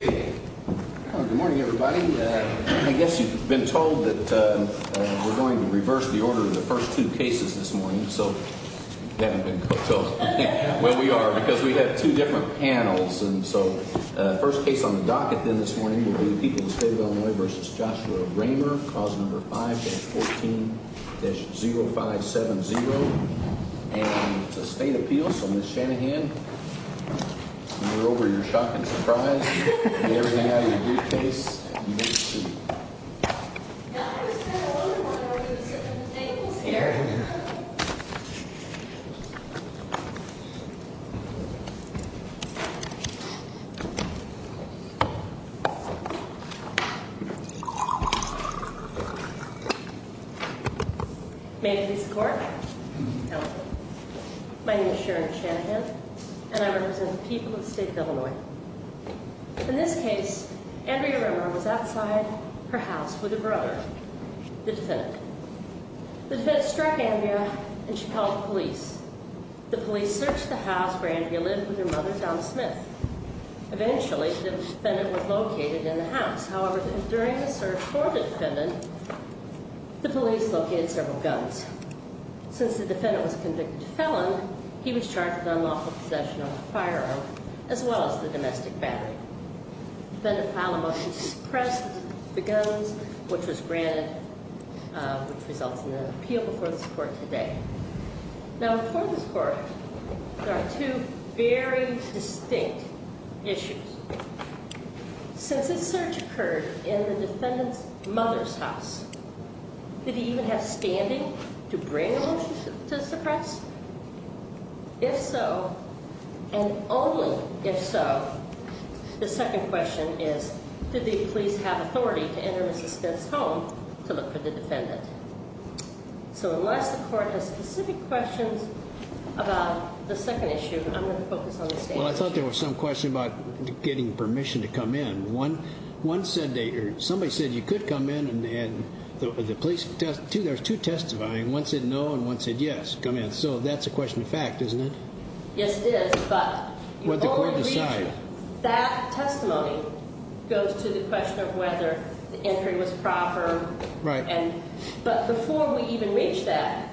Good morning, everybody. I guess you've been told that we're going to reverse the order of the first two cases this morning. So you haven't been told. Well, we are, because we have two different panels. And so the first case on the docket then this morning will be the people of the state of Illinois v. Joshua Rehmer, cause number 5-14-0570, and the state appeals. So, Ms. Shanahan, we're over your shocking surprise. Get everything out of your briefcase, and you may proceed. Yeah, I was kind of wondering why nobody was sitting in the tables here. May it please the court. My name is Sharon Shanahan, and I represent the people of the state of Illinois. In this case, Andrea Rehmer was outside her house with her brother, the defendant. The defendant struck Andrea, and she called the police. The police searched the house where Andrea lived with her mother, Donna Smith. Eventually, the defendant was located in the house. However, during the search for the defendant, the police located several guns. Since the defendant was convicted felon, he was charged with unlawful possession of a firearm, as well as the domestic battery. The defendant filed a motion to suppress the guns, which was granted, which results in an appeal before this court today. Now, before this court, there are two very distinct issues. Since this search occurred in the defendant's mother's house, did he even have standing to bring a motion to suppress? If so, and only if so, the second question is, did the police have authority to enter Mrs. Smith's home to look for the defendant? So unless the court has specific questions about the second issue, I'm going to focus on the standard issue. Well, I thought there was some question about getting permission to come in. One said they heard, somebody said you could come in, and the police, two, there's two testifying. One said no, and one said yes, come in. So that's a question of fact, isn't it? Yes, it is, but you only reach that testimony goes to the question of whether the entry was proper. Right. But before we even reach that,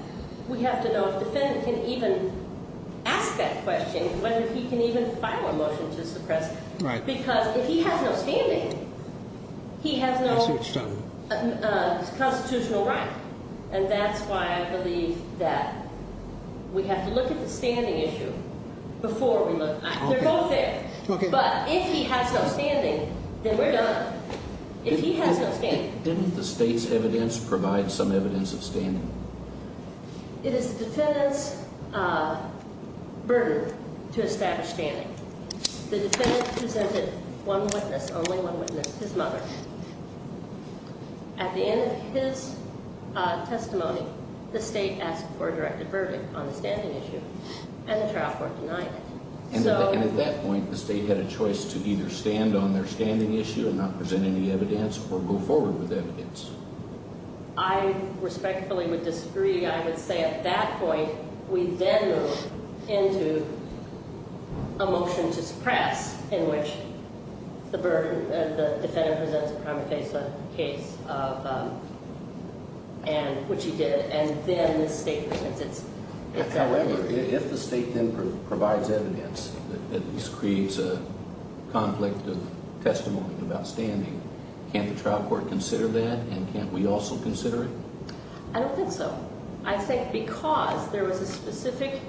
we have to know if the defendant can even ask that question, whether he can even file a motion to suppress, because if he has no standing, he has no constitutional right. And that's why I believe that we have to look at the standing issue before we look. They're both there. But if he has no standing, then we're done. If he has no standing. Didn't the state's evidence provide some evidence of standing? It is the defendant's burden to establish standing. The defendant presented one witness, only one witness, his mother. At the end of his testimony, the state asked for a directed verdict on the standing issue, and the trial court denied it. And at that point, the state had a choice to either stand on their standing issue and not present any evidence or go forward with evidence. I respectfully would disagree. I would say at that point, we then move into a motion to suppress, in which the defendant presents a prima facie case, which he did. And then the state presents its evidence. If the state then provides evidence that this creates a conflict of testimony about standing, can't the trial court consider that? And can't we also consider it? I don't think so. I think because there was a specific,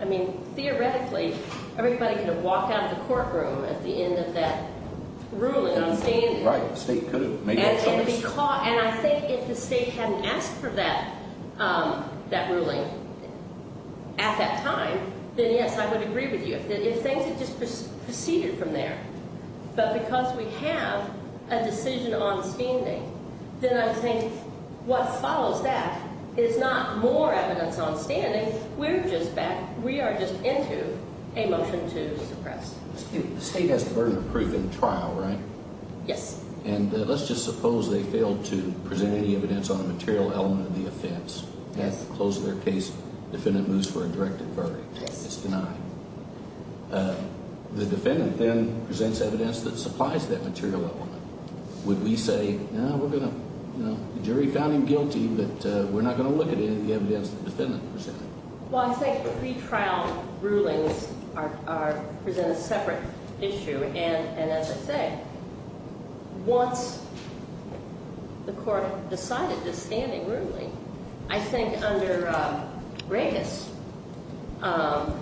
I mean, theoretically, everybody could have walked out of the courtroom at the end of that ruling on standing. And I think if the state hadn't asked for that ruling at that time, then yes, I would agree with you. If things had just proceeded from there, but because we have a decision on standing, then I think what follows that is not more evidence on standing. We're just back, we are just into a motion to suppress. The state has the burden of proof in trial, right? Yes. And let's just suppose they failed to present any evidence on a material element of the offense. At the close of their case, the defendant moves for a directed verdict. Yes. It's denied. The defendant then presents evidence that supplies that material element. Would we say, no, we're going to, you know, the jury found him guilty, but we're not going to look at any of the evidence the defendant presented? Well, I think pretrial rulings are, present a separate issue. And as I say, once the court decided to standing rudely, I think under Regas, the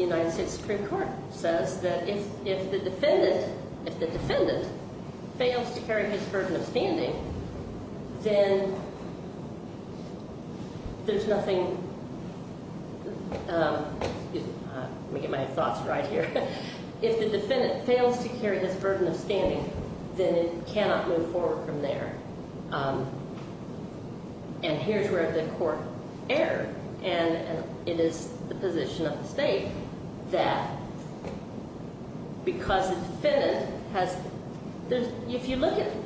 United States Supreme Court says that if the defendant fails to carry his burden of standing, then there's nothing. Let me get my thoughts right here. If the defendant fails to carry his burden of standing, then it cannot move forward from there. And here's where the court erred, and it is the position of the state that because the defendant has, if you look at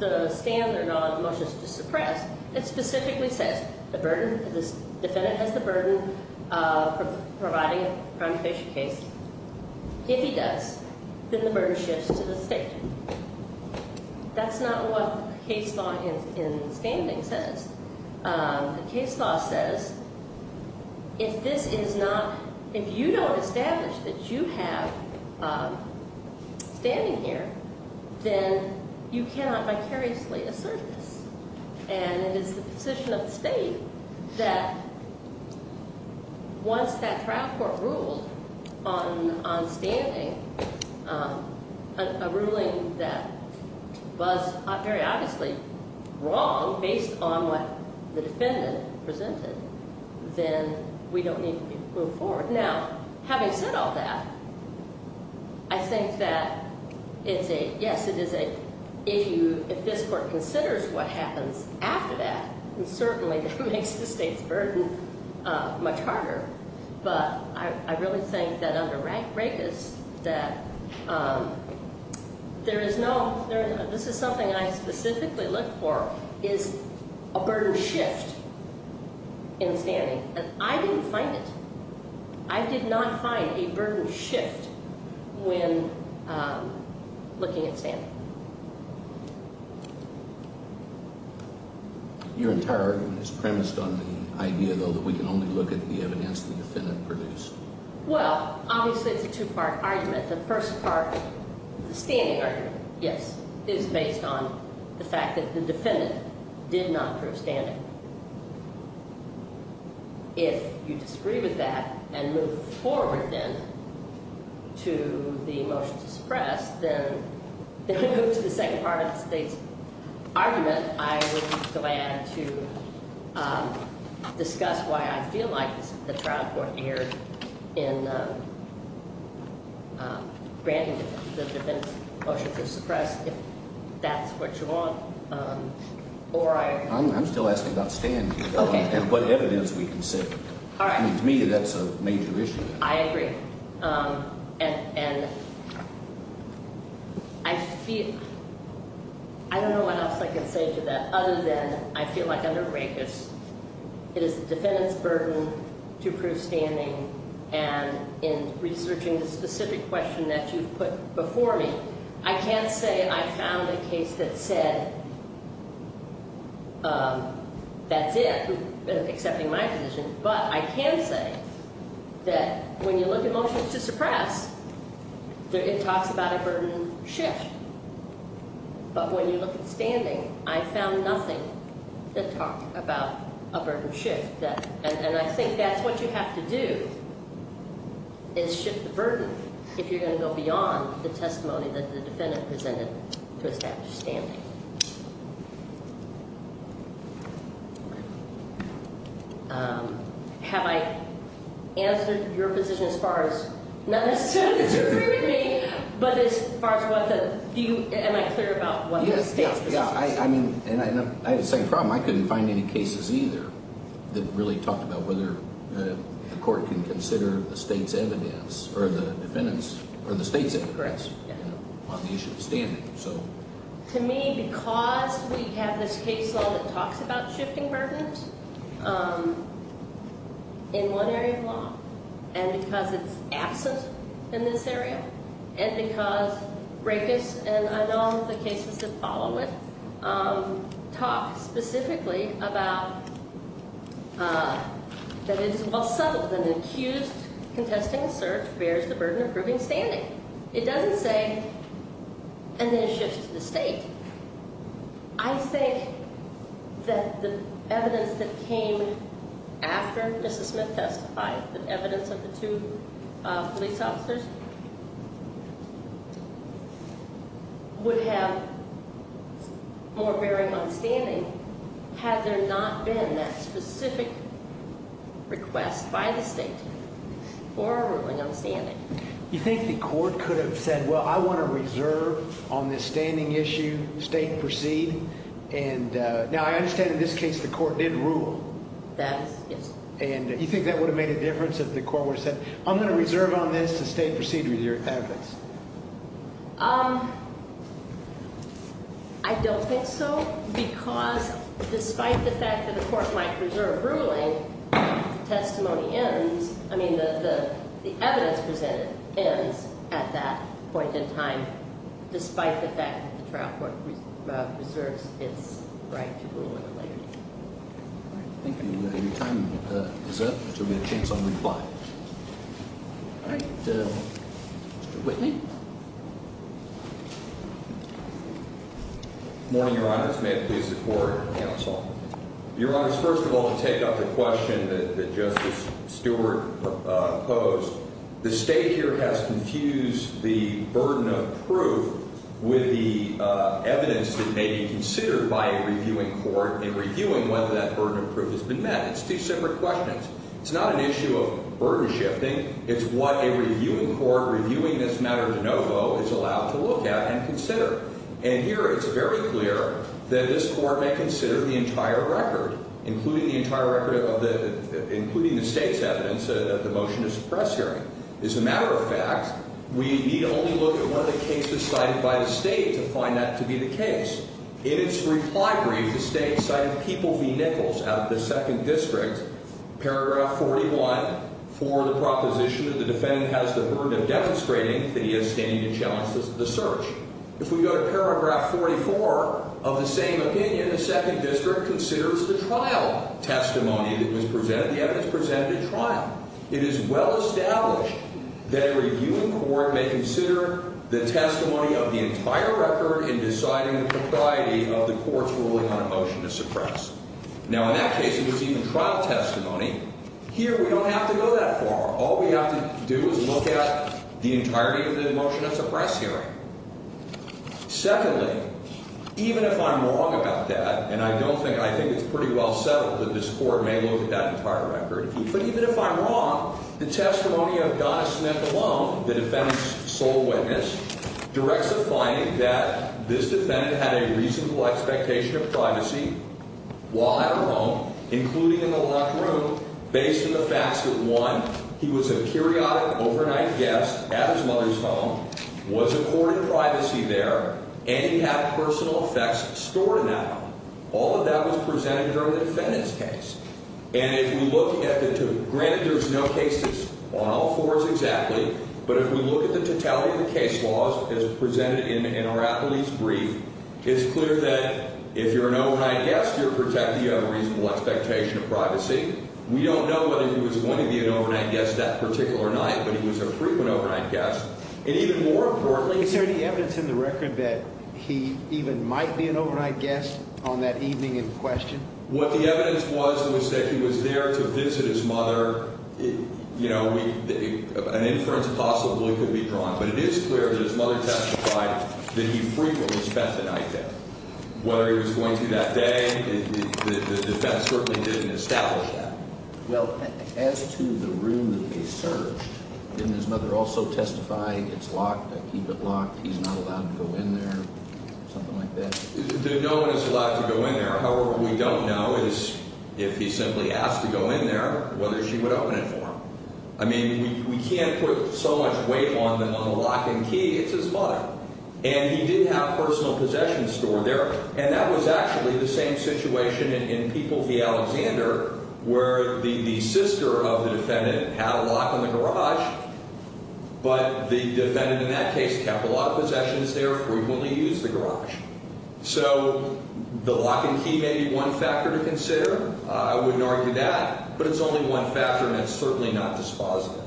the stand or not motions to suppress, it specifically says the burden, the defendant has the burden of providing a primary case. If he does, then the burden shifts to the state. That's not what the case law in standing says. The case law says if this is not, if you don't establish that you have standing here, then you cannot vicariously assert this. And it is the position of the state that once that trial court ruled on standing, a ruling that was very obviously wrong based on what the defendant presented, then we don't need to move forward. Now, having said all that, I think that it's a, yes, it is a, if you, if this court considers what happens after that, then certainly that makes the state's burden much harder. But I really think that under Regas that there is no, this is something I specifically look for, is a burden shift in standing. And I didn't find it. I did not find a burden shift when looking at standing. Your entire argument is premised on the idea, though, that we can only look at the evidence the defendant produced. Well, obviously it's a two-part argument. The first part, the standing argument, yes, is based on the fact that the defendant did not prove standing. And if you disagree with that and move forward, then, to the motion to suppress, then move to the second part of the state's argument. I would be glad to discuss why I feel like the trial court erred in granting the defendant's motion to suppress if that's what you want. I'm still asking about standing and what evidence we can say. To me, that's a major issue. I agree. And I feel, I don't know what else I can say to that other than I feel like under Regas, it is the defendant's burden to prove standing. And in researching the specific question that you've put before me, I can't say I found a case that said that's it, accepting my position. But I can say that when you look at motions to suppress, it talks about a burden shift. But when you look at standing, I found nothing that talked about a burden shift. And I think that's what you have to do is shift the burden if you're going to go beyond the testimony that the defendant presented to establish standing. Have I answered your position as far as not necessarily disagreeing with me, but as far as what the view, am I clear about what the state's position is? I mean, and I have a second problem. I couldn't find any cases either that really talked about whether the court can consider the state's evidence or the defendant's or the state's interest on the issue of standing. To me, because we have this case law that talks about shifting burdens in one area of law. And because it's absent in this area. And because Regas, and I know the cases that follow it, talk specifically about that it is well settled that an accused contesting assert bears the burden of proving standing. It doesn't say, and then it shifts to the state. I think that the evidence that came after Mrs. Smith testified, the evidence of the two police officers, would have more bearing on standing. Had there not been that specific request by the state for a ruling on standing. You think the court could have said, well, I want to reserve on this standing issue, state proceed. And now I understand in this case, the court did rule. That is, yes. And you think that would have made a difference if the court would have said, I'm going to reserve on this to state proceed with your evidence. I don't think so. Because despite the fact that the court might preserve ruling, testimony ends. I mean, the evidence presented ends at that point in time, despite the fact that the trial court preserves its right to rule in a later date. Thank you. Your time is up, so we have a chance on reply. All right. Mr. Whitney. Good morning, Your Honor. May it please the court and counsel. Your Honor, first of all, to take up the question that Justice Stewart posed, the state here has confused the burden of proof with the evidence that may be considered by a reviewing court in reviewing whether that burden of proof has been met. It's two separate questions. It's not an issue of burden shifting. It's what a reviewing court reviewing this matter de novo is allowed to look at and consider. And here it's very clear that this court may consider the entire record, including the entire record of the – including the state's evidence that the motion is a press hearing. As a matter of fact, we need only look at one of the cases cited by the state to find that to be the case. In its reply brief, the state cited People v. Nichols out of the Second District, paragraph 41, for the proposition that the defendant has the burden of demonstrating that he is standing to challenge the search. If we go to paragraph 44 of the same opinion, the Second District considers the trial testimony that was presented. It is well established that a reviewing court may consider the testimony of the entire record in deciding the propriety of the court's ruling on a motion to suppress. Now, in that case, it was even trial testimony. Here we don't have to go that far. All we have to do is look at the entirety of the motion to suppress hearing. Secondly, even if I'm wrong about that, and I don't think – I think it's pretty well settled that this court may look at that entire record, but even if I'm wrong, the testimony of Donna Smith alone, the defendant's sole witness, directs a finding that this defendant had a reasonable expectation of privacy while at her home, including in the locked room, based on the facts that, one, he was a periodic overnight guest at his mother's home, was a court in privacy there, and he had personal effects stored in that home. All of that was presented during the defendant's case. And if we look at the – granted, there's no cases on all fours exactly, but if we look at the totality of the case laws as presented in our appellee's brief, it's clear that if you're an overnight guest, you're protected. You have a reasonable expectation of privacy. We don't know whether he was going to be an overnight guest that particular night, but he was a frequent overnight guest. And even more importantly – Is there any evidence in the record that he even might be an overnight guest on that evening in question? What the evidence was was that he was there to visit his mother. You know, we – an inference possibly could be drawn, but it is clear that his mother testified that he frequently spent the night there. Whether he was going to that day, the defense certainly didn't establish that. Well, as to the room that they searched, didn't his mother also testify, it's locked, I keep it locked, he's not allowed to go in there, something like that? No one is allowed to go in there. However, what we don't know is if he simply asked to go in there, whether she would open it for him. I mean, we can't put so much weight on the locking key. It's his mother. And he did have personal possessions stored there. And that was actually the same situation in People v. Alexander where the sister of the defendant had a lock on the garage, but the defendant in that case kept a lot of possessions there, frequently used the garage. So the lock and key may be one factor to consider. I wouldn't argue that, but it's only one factor, and it's certainly not dispositive.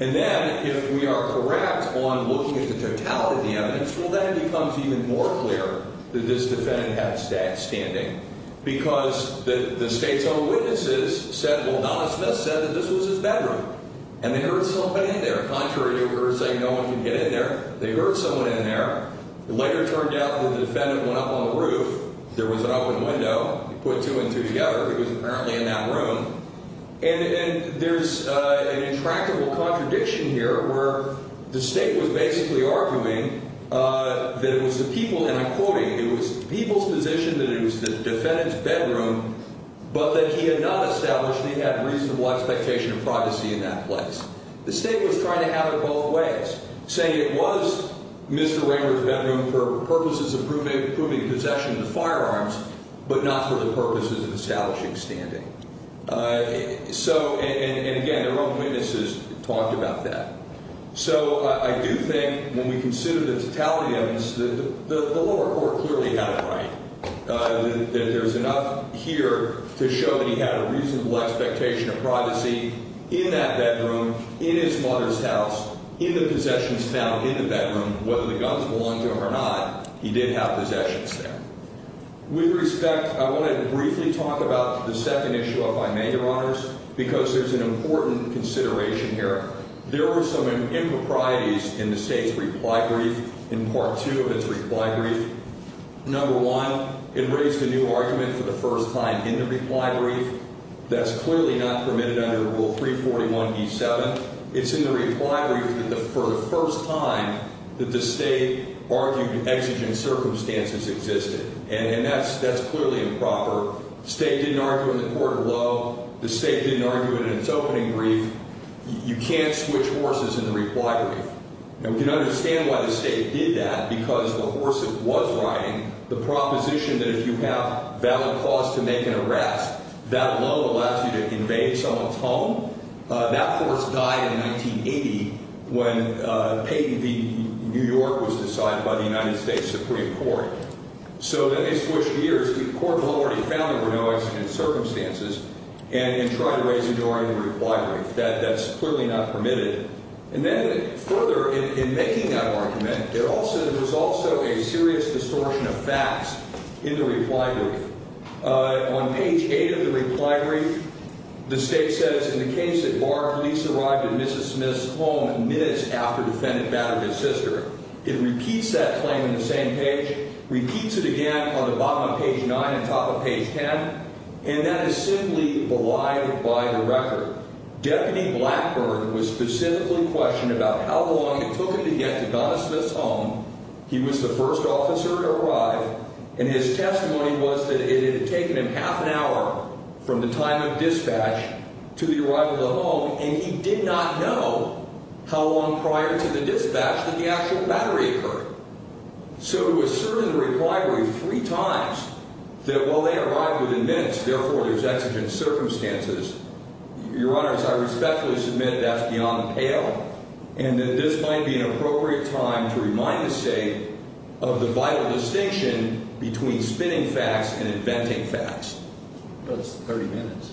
And then if we are correct on looking at the totality of the evidence, well, then it becomes even more clear that this defendant had standing because the State's own witnesses said, well, Donna Smith said that this was his bedroom, and they heard someone in there. Contrary to her saying no one can get in there, they heard someone in there. It later turned out that the defendant went up on the roof. There was an open window. They put two and two together. He was apparently in that room. And there's an intractable contradiction here where the State was basically arguing that it was the people, and I'm quoting, it was the people's position that it was the defendant's bedroom, but that he had not established that he had reasonable expectation of privacy in that place. The State was trying to have it both ways, saying it was Mr. Rayburn's bedroom for purposes of proving possession of the firearms, but not for the purposes of establishing standing. So, and again, their own witnesses talked about that. So I do think when we consider the totality of this, the lower court clearly had it right, that there's enough here to show that he had a reasonable expectation of privacy in that bedroom, in his mother's house, in the possessions found in the bedroom. Whether the guns belonged to him or not, he did have possessions there. With respect, I want to briefly talk about the second issue of my major honors because there's an important consideration here. There were some improprieties in the State's reply brief, in part two of its reply brief. Number one, it raised a new argument for the first time in the reply brief. That's clearly not permitted under Rule 341b7. It's in the reply brief for the first time that the State argued exigent circumstances existed, and that's clearly improper. The State didn't argue it in the court of law. The State didn't argue it in its opening brief. You can't switch horses in the reply brief. Now, we can understand why the State did that because the horse that was riding, the proposition that if you have valid cause to make an arrest, that law allows you to invade someone's home. That horse died in 1980 when New York was decided by the United States Supreme Court. So let me switch gears. The court of law already found there were no exigent circumstances and tried to raise a new argument in the reply brief. That's clearly not permitted. And then further, in making that argument, there was also a serious distortion of facts in the reply brief. On page 8 of the reply brief, the State says, in the case that Barr police arrived at Mrs. Smith's home minutes after defendant battered his sister. It repeats that claim in the same page, repeats it again on the bottom of page 9 and top of page 10, and that is simply belied by the record. Deputy Blackburn was specifically questioned about how long it took him to get to Donna Smith's home. He was the first officer to arrive, and his testimony was that it had taken him half an hour from the time of dispatch to the arrival of the home, and he did not know how long prior to the dispatch that the actual battery occurred. So it was asserted in the reply brief three times that while they arrived within minutes, therefore, there's exigent circumstances. Your Honors, I respectfully submit that's beyond pale and that this might be an appropriate time to remind the State of the vital distinction between spinning facts and inventing facts. It's 30 minutes,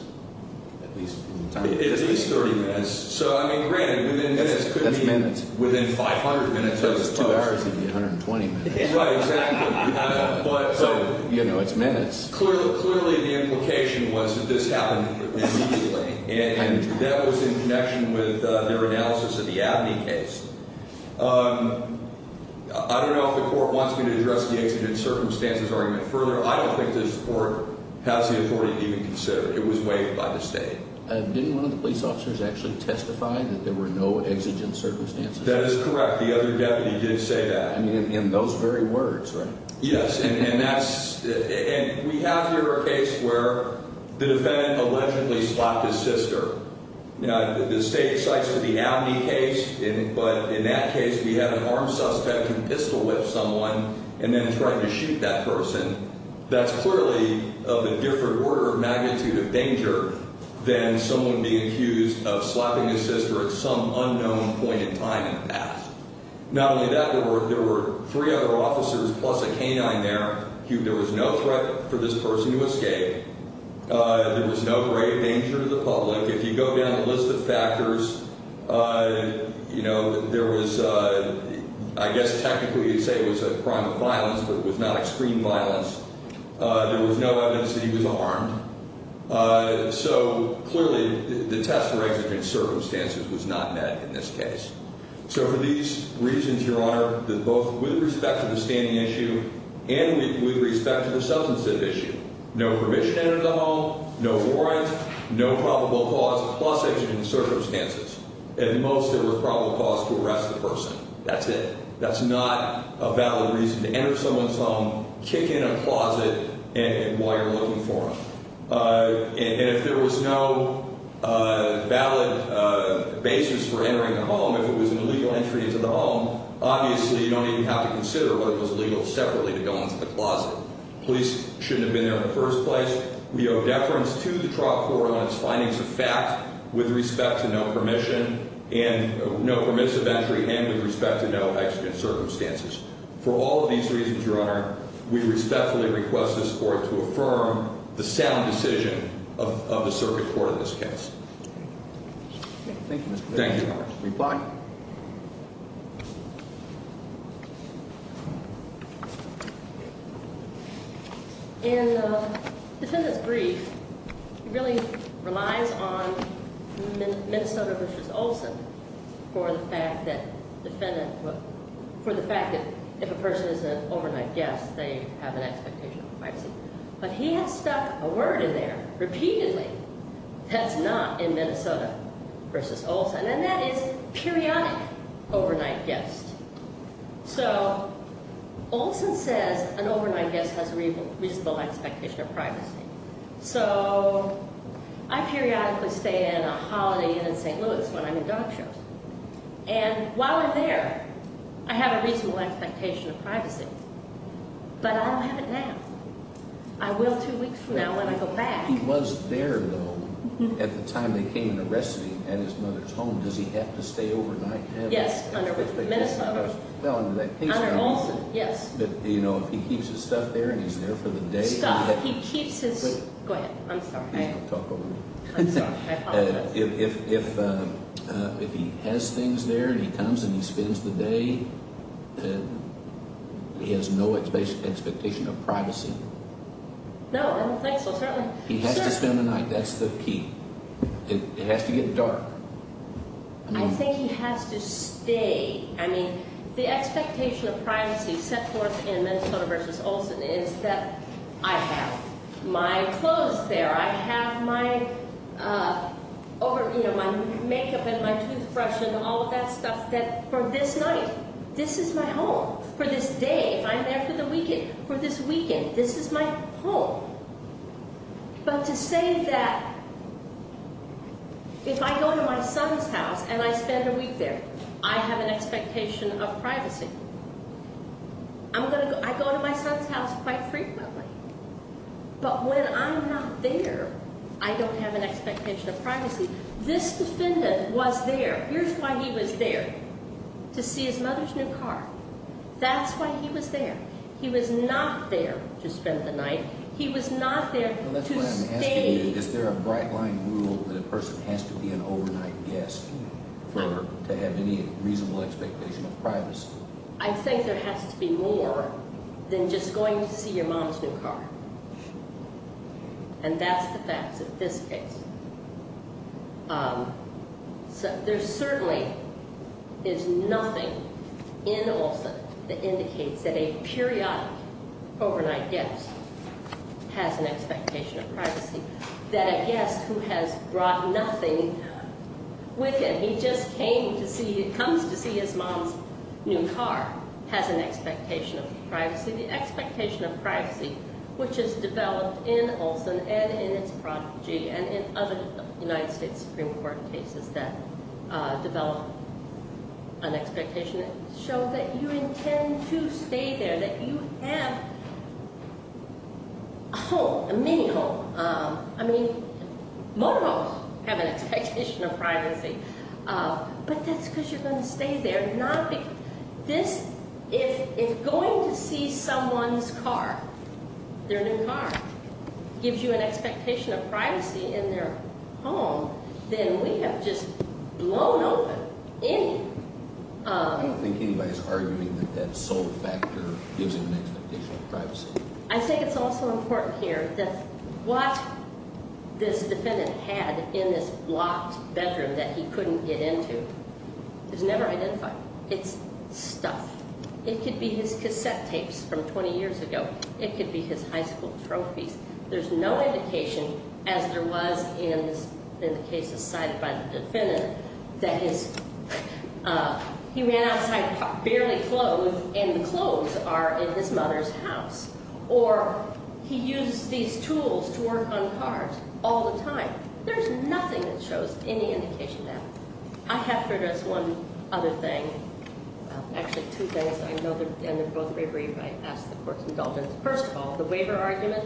at least. It is 30 minutes. So, I mean, granted, within minutes could be within 500 minutes, I suppose. Two hours could be 120 minutes. Right, exactly. So, you know, it's minutes. Clearly, the implication was that this happened immediately, and that was in connection with their analysis of the Abney case. I don't know if the Court wants me to address the exigent circumstances argument further. I don't think this Court has the authority to even consider it. It was waived by the State. Didn't one of the police officers actually testify that there were no exigent circumstances? That is correct. The other deputy did say that. I mean, in those very words, right? Yes, and that's – and we have here a case where the defendant allegedly slapped his sister. Now, the State cites the Abney case, but in that case we have an armed suspect who pistol-whipped someone and then tried to shoot that person. That's clearly of a different order of magnitude of danger than someone being accused of slapping his sister at some unknown point in time in the past. Not only that, there were three other officers plus a canine there. There was no threat for this person to escape. There was no grave danger to the public. If you go down the list of factors, you know, there was – I guess technically you'd say it was a crime of violence, but it was not extreme violence. There was no evidence that he was armed. So, clearly, the test for exigent circumstances was not met in this case. So for these reasons, Your Honor, that both with respect to the standing issue and with respect to the substantive issue, no permission to enter the home, no warrant, no probable cause, plus exigent circumstances. At most, there was probable cause to arrest the person. That's it. That's not a valid reason to enter someone's home, kick in a closet, and while you're looking for them. And if there was no valid basis for entering the home, if it was an illegal entry into the home, obviously you don't even have to consider whether it was illegal separately to go into the closet. Police shouldn't have been there in the first place. We owe deference to the trial court on its findings of fact with respect to no permission and no permissive entry and with respect to no exigent circumstances. For all of these reasons, Your Honor, we respectfully request this court to affirm the sound decision of the circuit court in this case. Thank you. Thank you. Reply. In the defendant's brief, he really relies on Minnesota v. Olson for the fact that if a person is an overnight guest, they have an expectation of privacy. But he has stuck a word in there repeatedly that's not in Minnesota v. Olson. And that is periodic overnight guests. So Olson says an overnight guest has a reasonable expectation of privacy. So I periodically stay in a holiday inn in St. Louis when I'm in dog shows. And while I'm there, I have a reasonable expectation of privacy. But I don't have it now. I will two weeks from now when I go back. If he was there, though, at the time they came and arrested him at his mother's home, does he have to stay overnight? Yes, under Minnesota. Under that case, Your Honor. Under Olson, yes. But, you know, if he keeps his stuff there and he's there for the day. Stuff. He keeps his. Wait. Go ahead. I'm sorry. Please don't talk over me. I'm sorry. I apologize. If he has things there and he comes and he spends the day, he has no expectation of privacy. No, I don't think so. He has to spend the night. That's the key. It has to get dark. I think he has to stay. I mean, the expectation of privacy set forth in Minnesota v. Olson is that I have my clothes there. I have my over, you know, my makeup and my toothbrush and all of that stuff that for this night, this is my home. For this day, if I'm there for the weekend, for this weekend, this is my home. But to say that if I go to my son's house and I spend a week there, I have an expectation of privacy. I go to my son's house quite frequently. But when I'm not there, I don't have an expectation of privacy. This defendant was there. Here's why he was there. To see his mother's new car. That's why he was there. He was not there to spend the night. He was not there to stay. Is there a bright-line rule that a person has to be an overnight guest to have any reasonable expectation of privacy? I think there has to be more than just going to see your mom's new car. And that's the facts of this case. There certainly is nothing in Olson that indicates that a periodic overnight guest has an expectation of privacy. That a guest who has brought nothing with him, he just came to see, comes to see his mom's new car, has an expectation of privacy. The expectation of privacy, which is developed in Olson and in its prodigy and in other United States Supreme Court cases that develop an expectation, shows that you intend to stay there, that you have a home, a mini home. I mean, motorhomes have an expectation of privacy. But that's because you're going to stay there. If going to see someone's car, their new car, gives you an expectation of privacy in their home, then we have just blown open any... I don't think anybody's arguing that that sole factor gives an expectation of privacy. I think it's also important here that what this defendant had in this locked bedroom that he couldn't get into is never identified. It's stuff. It could be his cassette tapes from 20 years ago. It could be his high school trophies. There's no indication, as there was in the cases cited by the defendant, that he ran outside barely clothed and the clothes are in his mother's house. Or he used these tools to work on cars all the time. There's nothing that shows any indication of that. I have for just one other thing. Actually, two things. I know they're both very brief. I ask the court's indulgence. First of all, the waiver argument.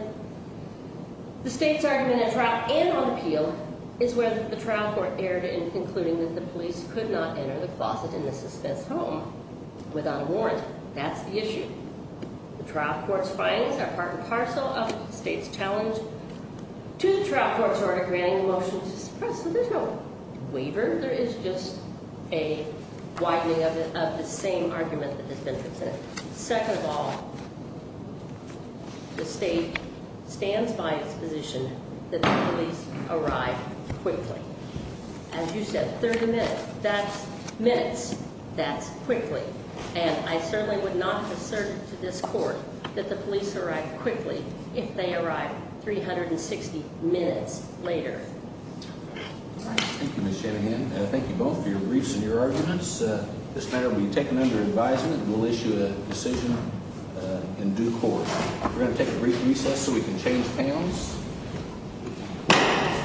The state's argument at trial and on appeal is where the trial court erred in concluding that the police could not enter the closet in the suspect's home without a warrant. That's the issue. The trial court's findings are part and parcel of the state's challenge to the trial court's order granting the motion to suppress. So there's no waiver. There is just a widening of the same argument that has been presented. Second of all, the state stands by its position that the police arrive quickly. As you said, 30 minutes. That's minutes. That's quickly. And I certainly would not assert to this court that the police arrive quickly if they arrive 360 minutes later. Thank you, Ms. Shanahan. Thank you both for your briefs and your arguments. This matter will be taken under advisement, and we'll issue a decision in due course. We're going to take a brief recess so we can change panels.